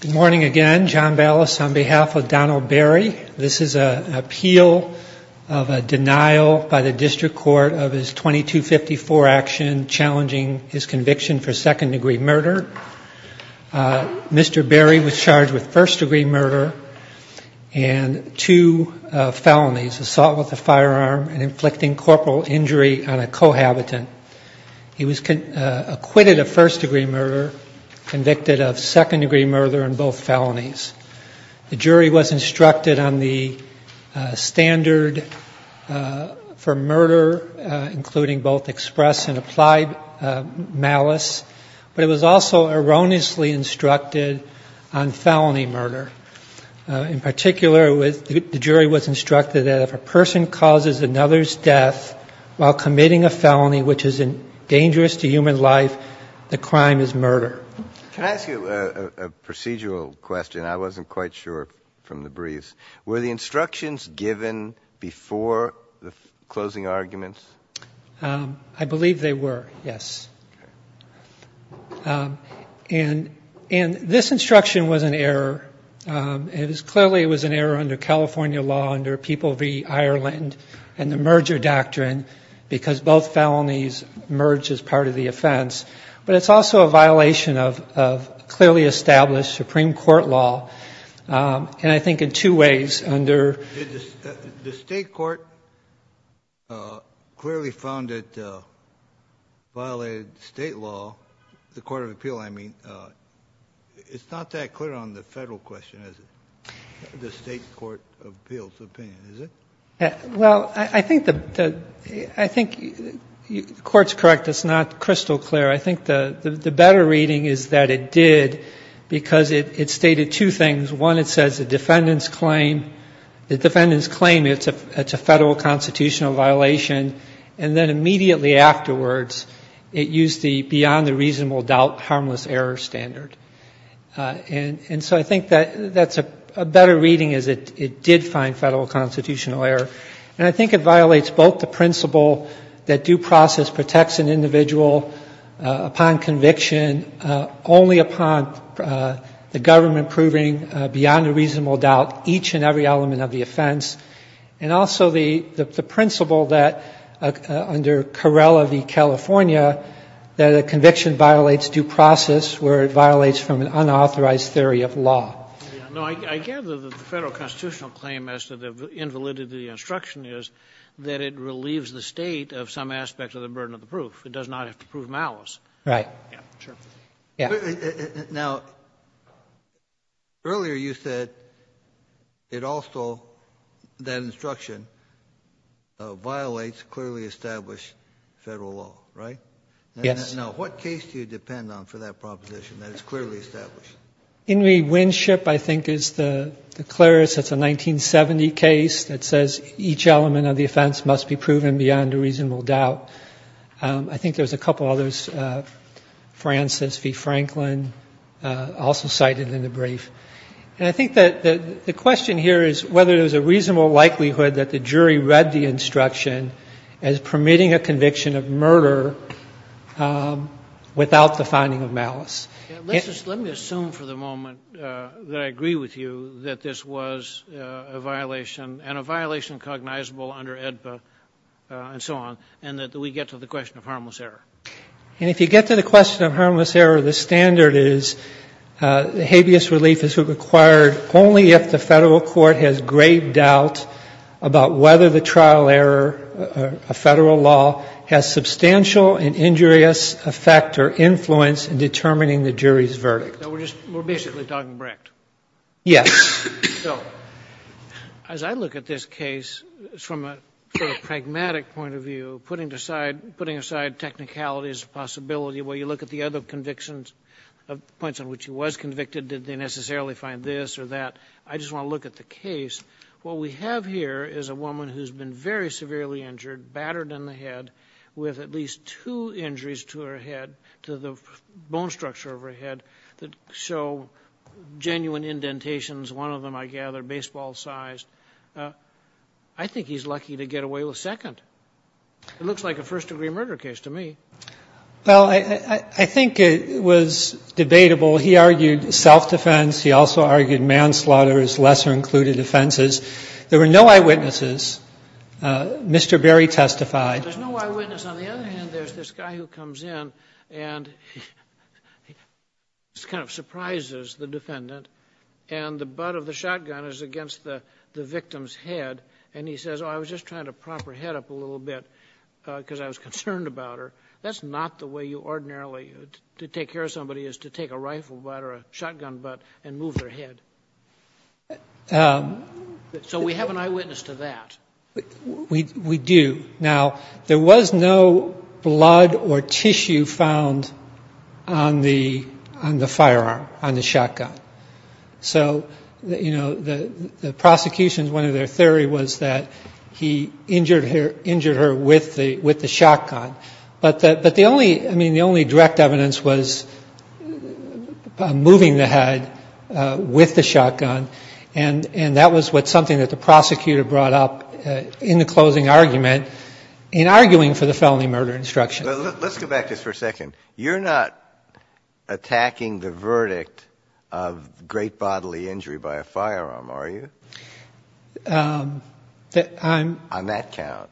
Good morning again, John Ballas on behalf of Donald Berry. This is an appeal of a denial by the District Court of his 2254 action challenging his conviction for second degree murder. Mr. Berry was charged with first degree murder and two felonies, assault with a firearm and inflicting corporal injury on a cohabitant. He was acquitted of first degree murder, convicted of second degree murder and both felonies. The jury was instructed on the standard for murder, including both express and applied malice, but it was also erroneously instructed on felony murder. In particular, the jury was instructed that if a person causes another's death while committing a felony which is dangerous to human life, the crime is murder. Can I ask you a procedural question? I wasn't quite sure from the briefs. Were the instructions given before the closing arguments? I believe they were, yes. And this instruction was an error. It is clearly it was an error under California law under People v. Ireland and the merger doctrine because both felonies merge as part of the offense. But it's also a violation of clearly established Supreme Court law. And I think in two ways under. The State court clearly found it violated State law, the court of appeal I mean. It's not that clear on the Federal question, is it, the State court of appeal's opinion, is it? Well, I think the court's correct. It's not crystal clear. I think the better reading is that it did because it stated two things. One, it says the defendant's claim, the defendant's claim it's a Federal constitutional violation, and then immediately afterwards it used the beyond the reasonable doubt harmless error standard. And so I think that's a better reading is it did find Federal constitutional error. And I think it violates both the principle that due process protects an individual upon conviction only upon the government proving beyond the reasonable doubt each and every element of the offense. And also the principle that under Carrella v. California that a conviction violates due process where it violates from an unauthorized theory of law. No, I gather that the Federal constitutional claim as to the invalidity of the instruction is that it relieves the State of some aspect of the burden of the proof. It does not have to prove malice. Right. Yeah, sure. Yeah. Now, earlier you said it also, that instruction violates clearly established Federal law, right? Yes. Now, what case do you depend on for that proposition that it's clearly established? In rewinship, I think, is the Clarice. It's a 1970 case that says each element of the offense must be proven beyond a reasonable doubt. I think there's a couple others, Francis v. Franklin, also cited in the brief. And I think that the question here is whether there's a reasonable likelihood that the jury read the instruction as permitting a conviction of murder without the finding of malice. Let me assume for the moment that I agree with you that this was a violation and a violation cognizable under AEDPA and so on, and that we get to the question of harmless error. And if you get to the question of harmless error, the standard is the habeas relief is required only if the Federal court has grave doubt about whether the trial error of Federal law has substantial and injurious effect or influence in determining the jury's verdict. So we're just, we're basically talking Brecht? Yes. So, as I look at this case from a sort of pragmatic point of view, putting aside technicalities of possibility, where you look at the other convictions, points on which he was convicted, did they necessarily find this or that, I just want to look at the other convictions. One of them, I think, is that he was severely injured, battered in the head with at least two injuries to her head, to the bone structure of her head that show genuine indentations. One of them, I gather, baseball-sized. I think he's lucky to get away with second. It looks like a first-degree murder case to me. Well, I think it was debatable. He argued self-defense. He also argued manslaughter as lesser-included offenses. There were no eyewitnesses. Mr. Berry testified. There's no eyewitness. On the other hand, there's this guy who comes in and kind of surprises the defendant, and the butt of the shotgun is against the victim's head, and he says, oh, I was just trying to prop her head up a little bit because I was concerned about her. That's not the way you ordinarily, to take care of somebody is to take a rifle butt or a shotgun butt and move their head. So we have an eyewitness to that. We do. Now, there was no blood or tissue found on the firearm, on the shotgun. So, you know, the prosecution, one of their theory was that he injured her with the shotgun. But the only, I mean, the only direct evidence was moving the head with the shotgun, and that was something that the prosecutor brought up in the closing argument in arguing for the felony murder instruction. Let's go back just for a second. You're not attacking the verdict of great bodily injury by a firearm, are you? I'm — On that count.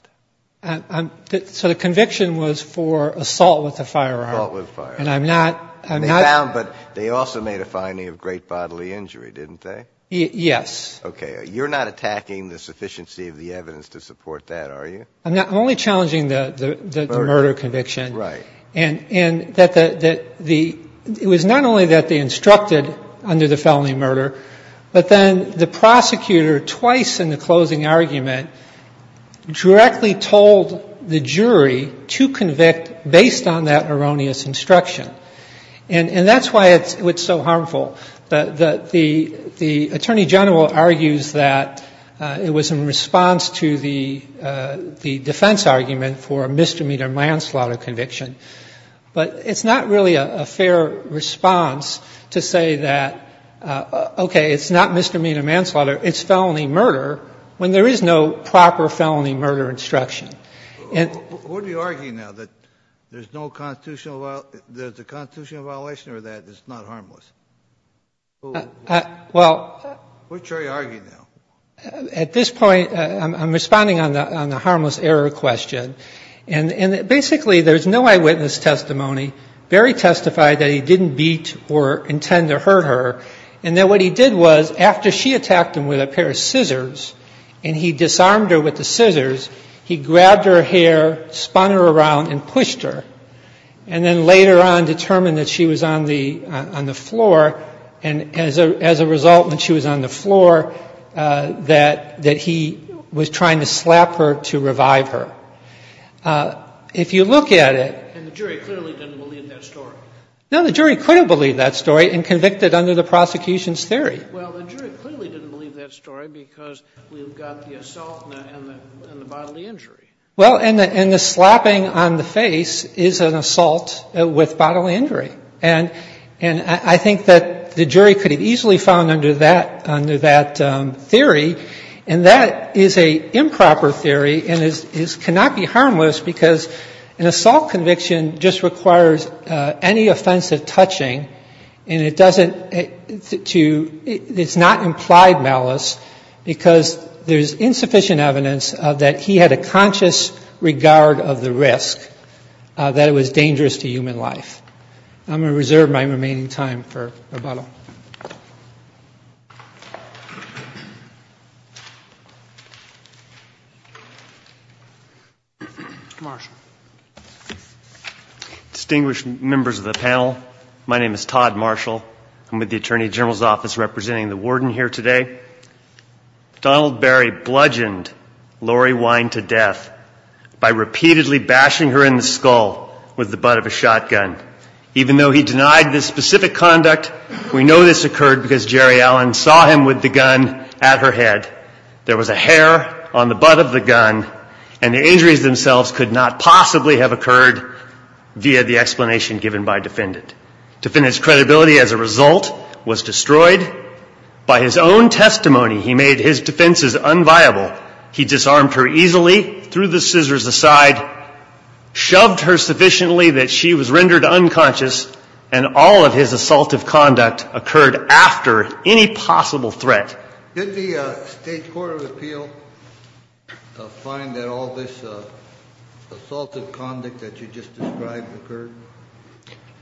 So the conviction was for assault with a firearm. Assault with a firearm. And I'm not — But they also made a finding of great bodily injury, didn't they? Yes. Okay. You're not attacking the sufficiency of the evidence to support that, are you? I'm only challenging the murder conviction. Right. And that the — it was not only that they instructed under the felony murder, but then the prosecutor twice in the closing argument directly told the jury to convict based on that erroneous instruction. And that's why it's so harmful. But the attorney general argues that it was in response to the defense argument for a misdemeanor manslaughter conviction. But it's not really a fair response to say that, okay, it's not misdemeanor manslaughter, it's felony murder, when there is no proper felony murder instruction. Who are you arguing now that there's no constitutional — there's a constitutional violation or that it's not harmless? Well — Which are you arguing now? At this point, I'm responding on the harmless error question. And basically there's no eyewitness testimony. Barry testified that he didn't beat or intend to hurt her, and that what he did was after she attacked him with a pair of scissors and he disarmed her with the scissors, he grabbed her hair, spun her around and pushed her, and then later on determined that she was on the floor, and as a result when she was on the floor that he was trying to slap her to revive her. If you look at it — And the jury clearly didn't believe that story. No, the jury couldn't believe that story and convicted under the prosecution's theory. Well, the jury clearly didn't believe that story because we've got the assault and the bodily injury. Well, and the slapping on the face is an assault with bodily injury. And I think that the jury could have easily found under that theory, and that is an improper theory and cannot be harmless because an assault conviction just requires any offensive touching, and it doesn't — it's not implied malice because there's insufficient evidence that he had a conscious regard of the risk, that it was dangerous to human life. I'm going to reserve my remaining time for rebuttal. Thank you. Marshall. Distinguished members of the panel, my name is Todd Marshall. I'm with the Attorney General's Office representing the warden here today. Donald Barry bludgeoned Lori Wine to death by repeatedly bashing her in the skull with the butt of a shotgun. Even though he denied this specific conduct, we know this occurred because Jerry Allen saw him with the gun at her head. There was a hair on the butt of the gun, and the injuries themselves could not possibly have occurred via the explanation given by defendant. Defendant's credibility as a result was destroyed. By his own testimony, he made his defenses unviable. He disarmed her easily, threw the scissors aside, shoved her sufficiently that she was rendered unconscious, and all of his assaultive conduct occurred after any possible threat. Did the State Court of Appeal find that all this assaultive conduct that you just described occurred,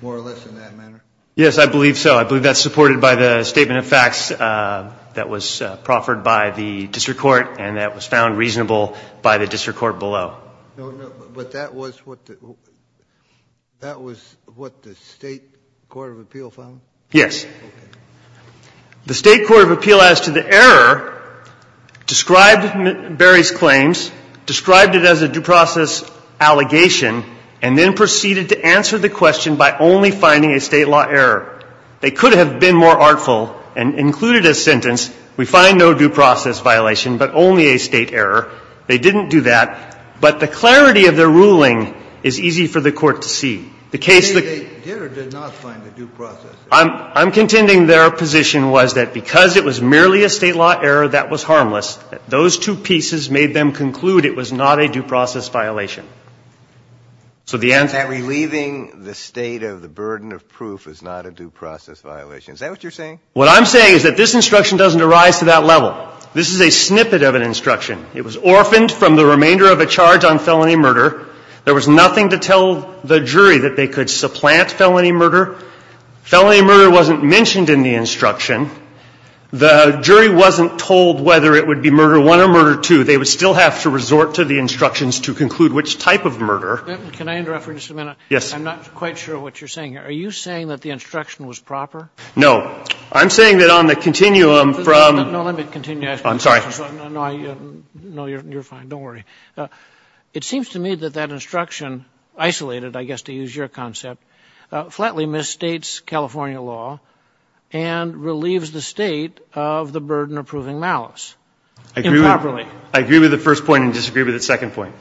more or less, in that manner? Yes, I believe so. I believe that's supported by the statement of facts that was proffered by the district court and that was found reasonable by the district court below. But that was what the State Court of Appeal found? Yes. The State Court of Appeal as to the error described Barry's claims, described it as a due process allegation, and then proceeded to answer the question by only finding a State law error. They could have been more artful and included a sentence, we find no due process violation, but only a State error. They didn't do that. But the clarity of their ruling is easy for the Court to see. The case that they did or did not find a due process error? I'm contending their position was that because it was merely a State law error, that was harmless. Those two pieces made them conclude it was not a due process violation. So the answer is that relieving the State of the burden of proof is not a due process violation. Is that what you're saying? What I'm saying is that this instruction doesn't arise to that level. This is a snippet of an instruction. It was orphaned from the remainder of a charge on felony murder. There was nothing to tell the jury that they could supplant felony murder. Felony murder wasn't mentioned in the instruction. The jury wasn't told whether it would be murder one or murder two. They would still have to resort to the instructions to conclude which type of murder. Can I interrupt for just a minute? Yes. I'm not quite sure what you're saying here. Are you saying that the instruction was proper? No. I'm saying that on the continuum from the... No, let me continue. I'm sorry. No, you're fine. Don't worry. It seems to me that that instruction, isolated, I guess to use your concept, flatly misstates California law and relieves the State of the burden of proving malice improperly. I agree with the first point and disagree with the second point.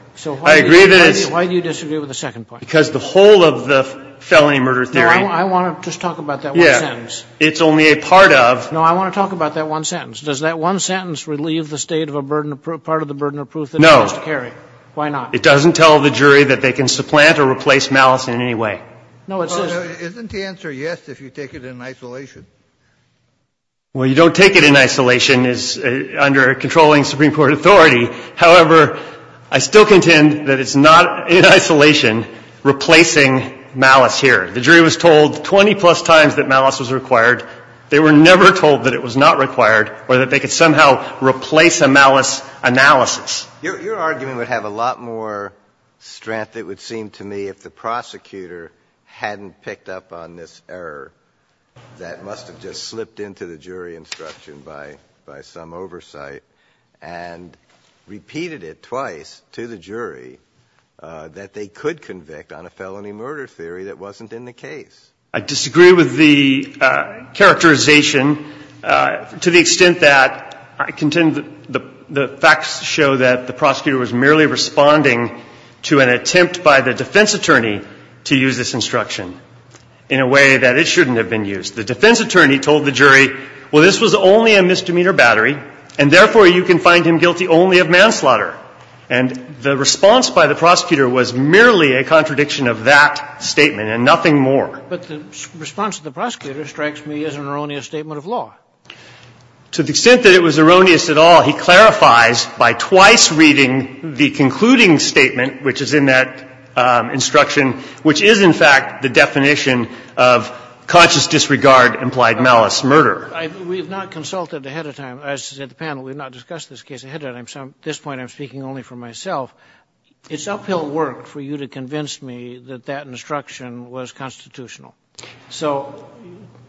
I agree that it's... Why do you disagree with the second point? Because the whole of the felony murder theory... I want to just talk about that one sentence. Yes. It's only a part of... No, I want to talk about that one sentence. Does that one sentence relieve the State of a burden of proof, part of the burden of proof that it has to carry? No. Why not? It doesn't tell the jury that they can supplant or replace malice in any way. No, it says... Well, isn't the answer yes if you take it in isolation? Well, you don't take it in isolation. It's under controlling Supreme Court authority. However, I still contend that it's not in isolation replacing malice here. The jury was told 20-plus times that malice was required. They were never told that it was not required or that they could somehow replace a malice analysis. Your argument would have a lot more strength, it would seem to me, if the prosecutor hadn't picked up on this error that must have just slipped into the jury instruction by some oversight and repeated it twice to the jury that they could convict on a felony murder theory that wasn't in the case. I disagree with the characterization to the extent that I contend that the facts show that the prosecutor was merely responding to an attempt by the defense attorney to use this instruction in a way that it shouldn't have been used. The defense attorney told the jury, well, this was only a misdemeanor battery, and therefore you can find him guilty only of manslaughter. And the response by the prosecutor was merely a contradiction of that statement and nothing more. But the response of the prosecutor strikes me as an erroneous statement of law. To the extent that it was erroneous at all, he clarifies by twice reading the concluding statement, which is in that instruction, which is, in fact, the definition of conscious disregard implied malice murder. We have not consulted ahead of time. As the panel, we have not discussed this case ahead of time. At this point, I'm speaking only for myself. It's uphill work for you to convince me that that instruction was constitutional. So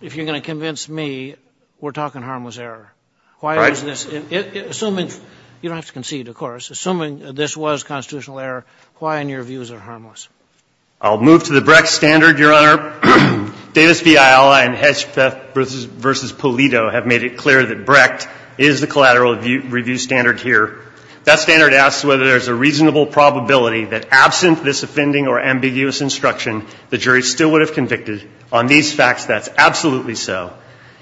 if you're going to convince me, we're talking harmless error. Why is this? Assuming you don't have to concede, of course. Assuming this was constitutional error, why in your views are harmless? I'll move to the Brecht standard, Your Honor. Davis v. Ayala and Hedgepeth v. Polito have made it clear that Brecht is the collateral review standard here. That standard asks whether there's a reasonable probability that absent this offending or ambiguous instruction, the jury still would have convicted. On these facts, that's absolutely so.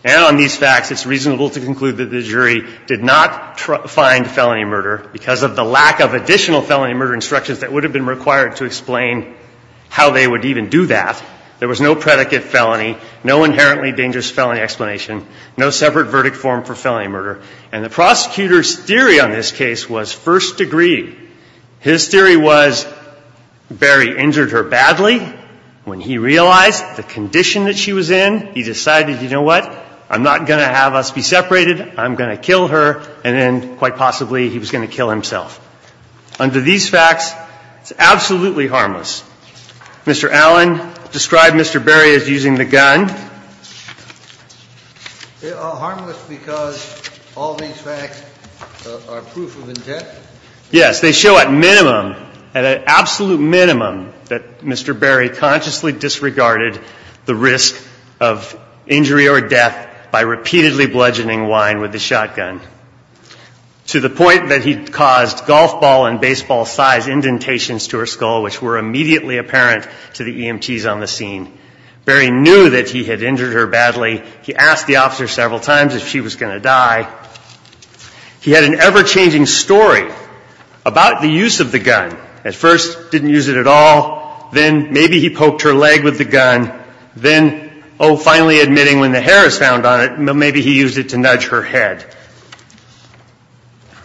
And on these facts, it's reasonable to conclude that the jury did not find felony murder because of the lack of additional felony murder instructions that would have been required to explain how they would even do that. There was no predicate felony, no inherently dangerous felony explanation, no separate verdict form for felony murder. And the prosecutor's theory on this case was first degree. His theory was Barry injured her badly. When he realized the condition that she was in, he decided, you know what, I'm not going to have us be separated. I'm going to kill her. And then, quite possibly, he was going to kill himself. Under these facts, it's absolutely harmless. Mr. Allen described Mr. Barry as using the gun. They are harmless because all these facts are proof of intent? Yes. They show at minimum, at an absolute minimum, that Mr. Barry consciously disregarded the risk of injury or death by repeatedly bludgeoning Wine with a shotgun, to the point where he was able to use a small golf ball and baseball-sized indentations to her skull, which were immediately apparent to the EMTs on the scene. Barry knew that he had injured her badly. He asked the officer several times if she was going to die. He had an ever-changing story about the use of the gun. At first, didn't use it at all. Then, maybe he poked her leg with the gun. Then, oh, finally admitting when the hair is found on it, maybe he used it to nudge her head.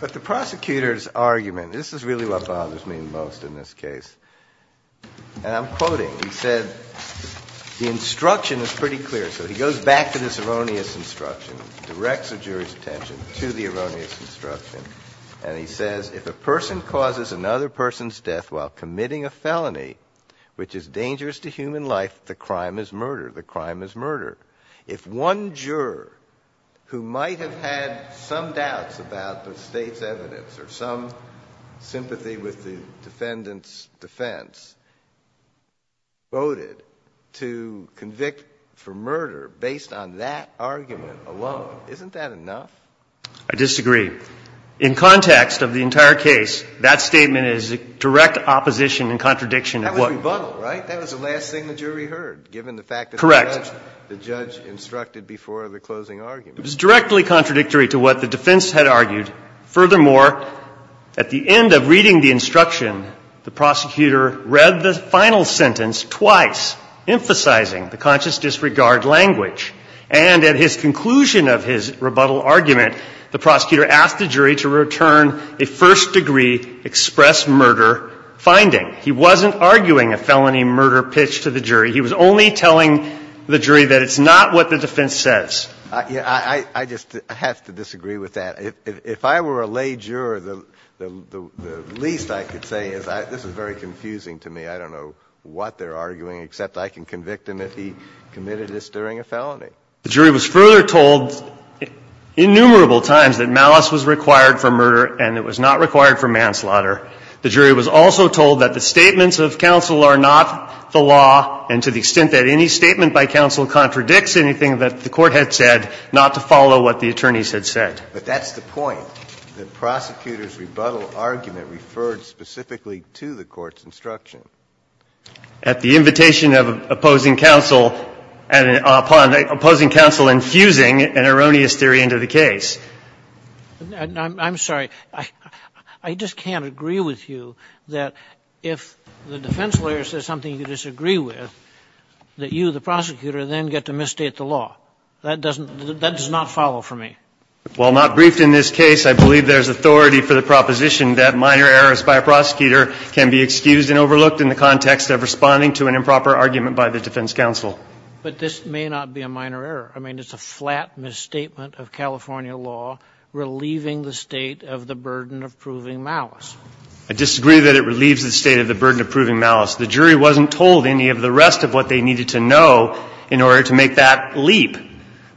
But the prosecutor's argument, this is really what bothers me most in this case. And I'm quoting. He said, the instruction is pretty clear. So he goes back to this erroneous instruction, directs the jury's attention to the erroneous instruction. And he says, if a person causes another person's death while committing a felony, which is dangerous to human life, the crime is murder. The crime is murder. If one juror who might have had some doubts about the State's evidence or some sympathy with the defendant's defense voted to convict for murder based on that argument alone, isn't that enough? I disagree. In context of the entire case, that statement is direct opposition and contradiction of what. That was rebuttal, right? That was the last thing the jury heard, given the fact that the judge instructed before the closing argument. Correct. It was directly contradictory to what the defense had argued. Furthermore, at the end of reading the instruction, the prosecutor read the final sentence twice, emphasizing the conscious disregard language. And at his conclusion of his rebuttal argument, the prosecutor asked the jury to return a first-degree express murder finding. He wasn't arguing a felony murder pitch to the jury. He was only telling the jury that it's not what the defense says. I just have to disagree with that. If I were a lay juror, the least I could say is this is very confusing to me. I don't know what they're arguing, except I can convict him if he committed this during a felony. The jury was further told innumerable times that malice was required for murder and it was not required for manslaughter. The jury was also told that the statements of counsel are not the law and to the extent that any statement by counsel contradicts anything that the Court had said, not to follow what the attorneys had said. But that's the point. The prosecutor's rebuttal argument referred specifically to the Court's instruction. At the invitation of opposing counsel and upon opposing counsel infusing an erroneous theory into the case. I'm sorry. I just can't agree with you that if the defense lawyer says something you disagree with, that you, the prosecutor, then get to misstate the law. That does not follow for me. While not briefed in this case, I believe there's authority for the proposition that minor errors by a prosecutor can be excused and overlooked in the context of responding to an improper argument by the defense counsel. But this may not be a minor error. I mean, it's a flat misstatement of California law relieving the state of the burden of proving malice. I disagree that it relieves the state of the burden of proving malice. The jury wasn't told any of the rest of what they needed to know in order to make that leap.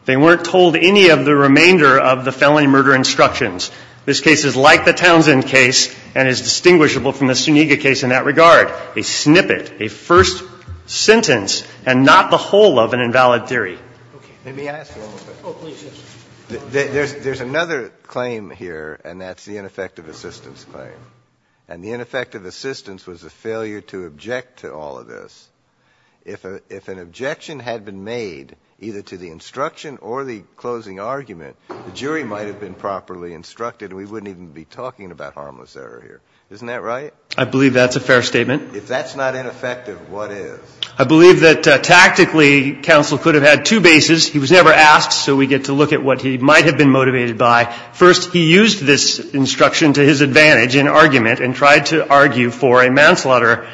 They weren't told any of the remainder of the felony murder instructions. This case is like the Townsend case and is distinguishable from the Suniga case in that regard. A snippet, a first sentence and not the whole of an invalid theory. Let me ask a little bit. There's another claim here and that's the ineffective assistance claim. And the ineffective assistance was a failure to object to all of this. If an objection had been made either to the instruction or the closing argument, the jury might have been properly instructed and we wouldn't even be talking about harmless error here. Isn't that right? I believe that's a fair statement. If that's not ineffective, what is? I believe that tactically counsel could have had two bases. He was never asked so we get to look at what he might have been motivated by. First, he used this instruction to his advantage in argument and tried to argue for a manslaughter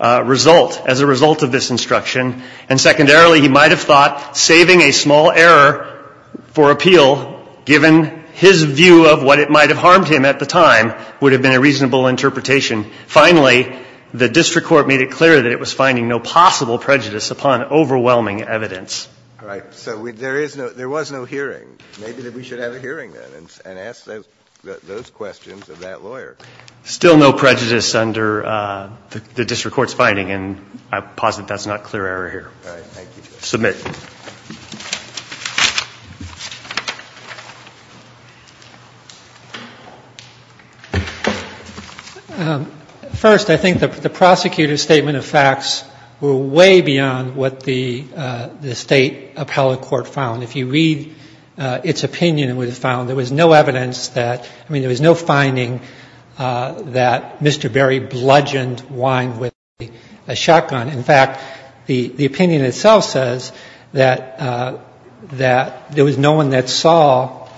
result as a result of this instruction. And secondarily, he might have thought saving a small error for appeal, given his view of what it might have harmed him at the time, would have been a reasonable interpretation. Finally, the district court made it clear that it was finding no possible prejudice upon overwhelming evidence. All right. So there is no ‑‑ there was no hearing. Maybe we should have a hearing then and ask those questions of that lawyer. Still no prejudice under the district court's finding and I posit that's not clear error here. All right. Thank you. Submit. First, I think the prosecutor's statement of facts were way beyond what the state appellate court found. If you read its opinion, it was found there was no evidence that ‑‑ I mean, there was no finding that Mr. Berry bludgeoned Wyand with a shotgun. That there was no one that saw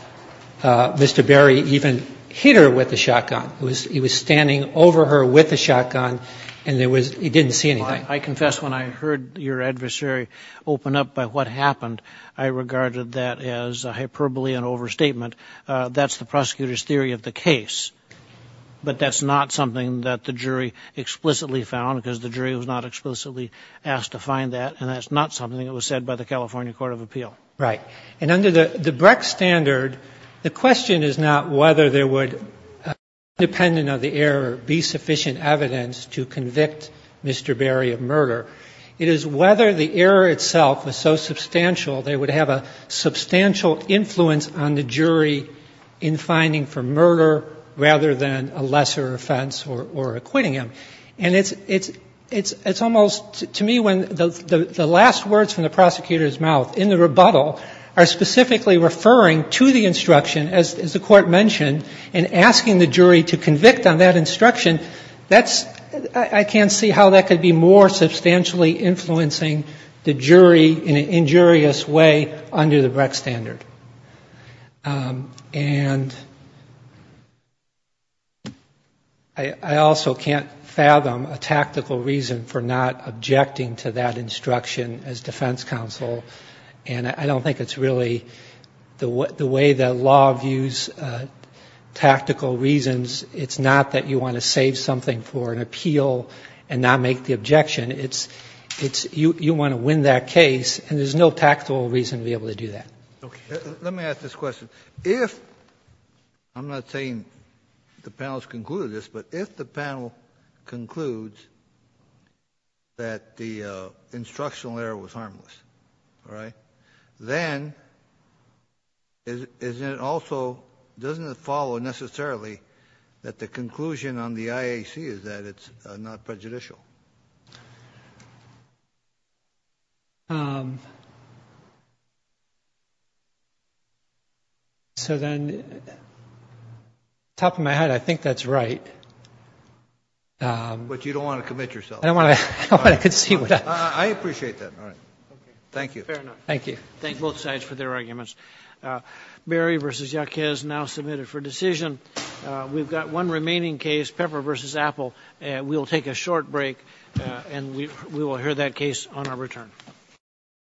Mr. Berry even hit her with a shotgun. He was standing over her with a shotgun and he didn't see anything. I confess when I heard your adversary open up by what happened, I regarded that as hyperbole and overstatement. That's the prosecutor's theory of the case. But that's not something that the jury explicitly found because the jury was not explicitly asked to find that and that's not something that was said by the California Court of Appeal. Right. And under the Breck standard, the question is not whether there would, independent of the error, be sufficient evidence to convict Mr. Berry of murder. It is whether the error itself was so substantial they would have a substantial influence on the jury in finding for murder rather than a lesser offense or acquitting him. And it's almost, to me, when the last words from the prosecutor's mouth in the rebuttal are specifically referring to the instruction, as the court mentioned, and asking the jury to convict on that instruction, that's ‑‑ I can't see how that could be more substantially influencing the jury in an injurious way under the Breck standard. And I also can't fathom a tactical reason for not objecting to that instruction as defense counsel, and I don't think it's really ‑‑ the way the law views tactical reasons, it's not that you want to save something for an appeal and not make the objection. It's you want to win that case, and there's no tactical reason to be able to do that. Okay. Let me ask this question. If ‑‑ I'm not saying the panel has concluded this, but if the panel concludes that the instructional error was harmless, all right, then is it also ‑‑ doesn't it follow necessarily that the conclusion on the IAC is that it's not prejudicial? So then, top of my head, I think that's right. But you don't want to commit yourself. I don't want to concede with that. I appreciate that. All right. Thank you. Fair enough. Thank you. Thank both sides for their arguments. Berry v. Yaquez now submitted for decision. We've got one remaining case, Pepper v. Apple. We'll take a short break, and we will hear that case on our return.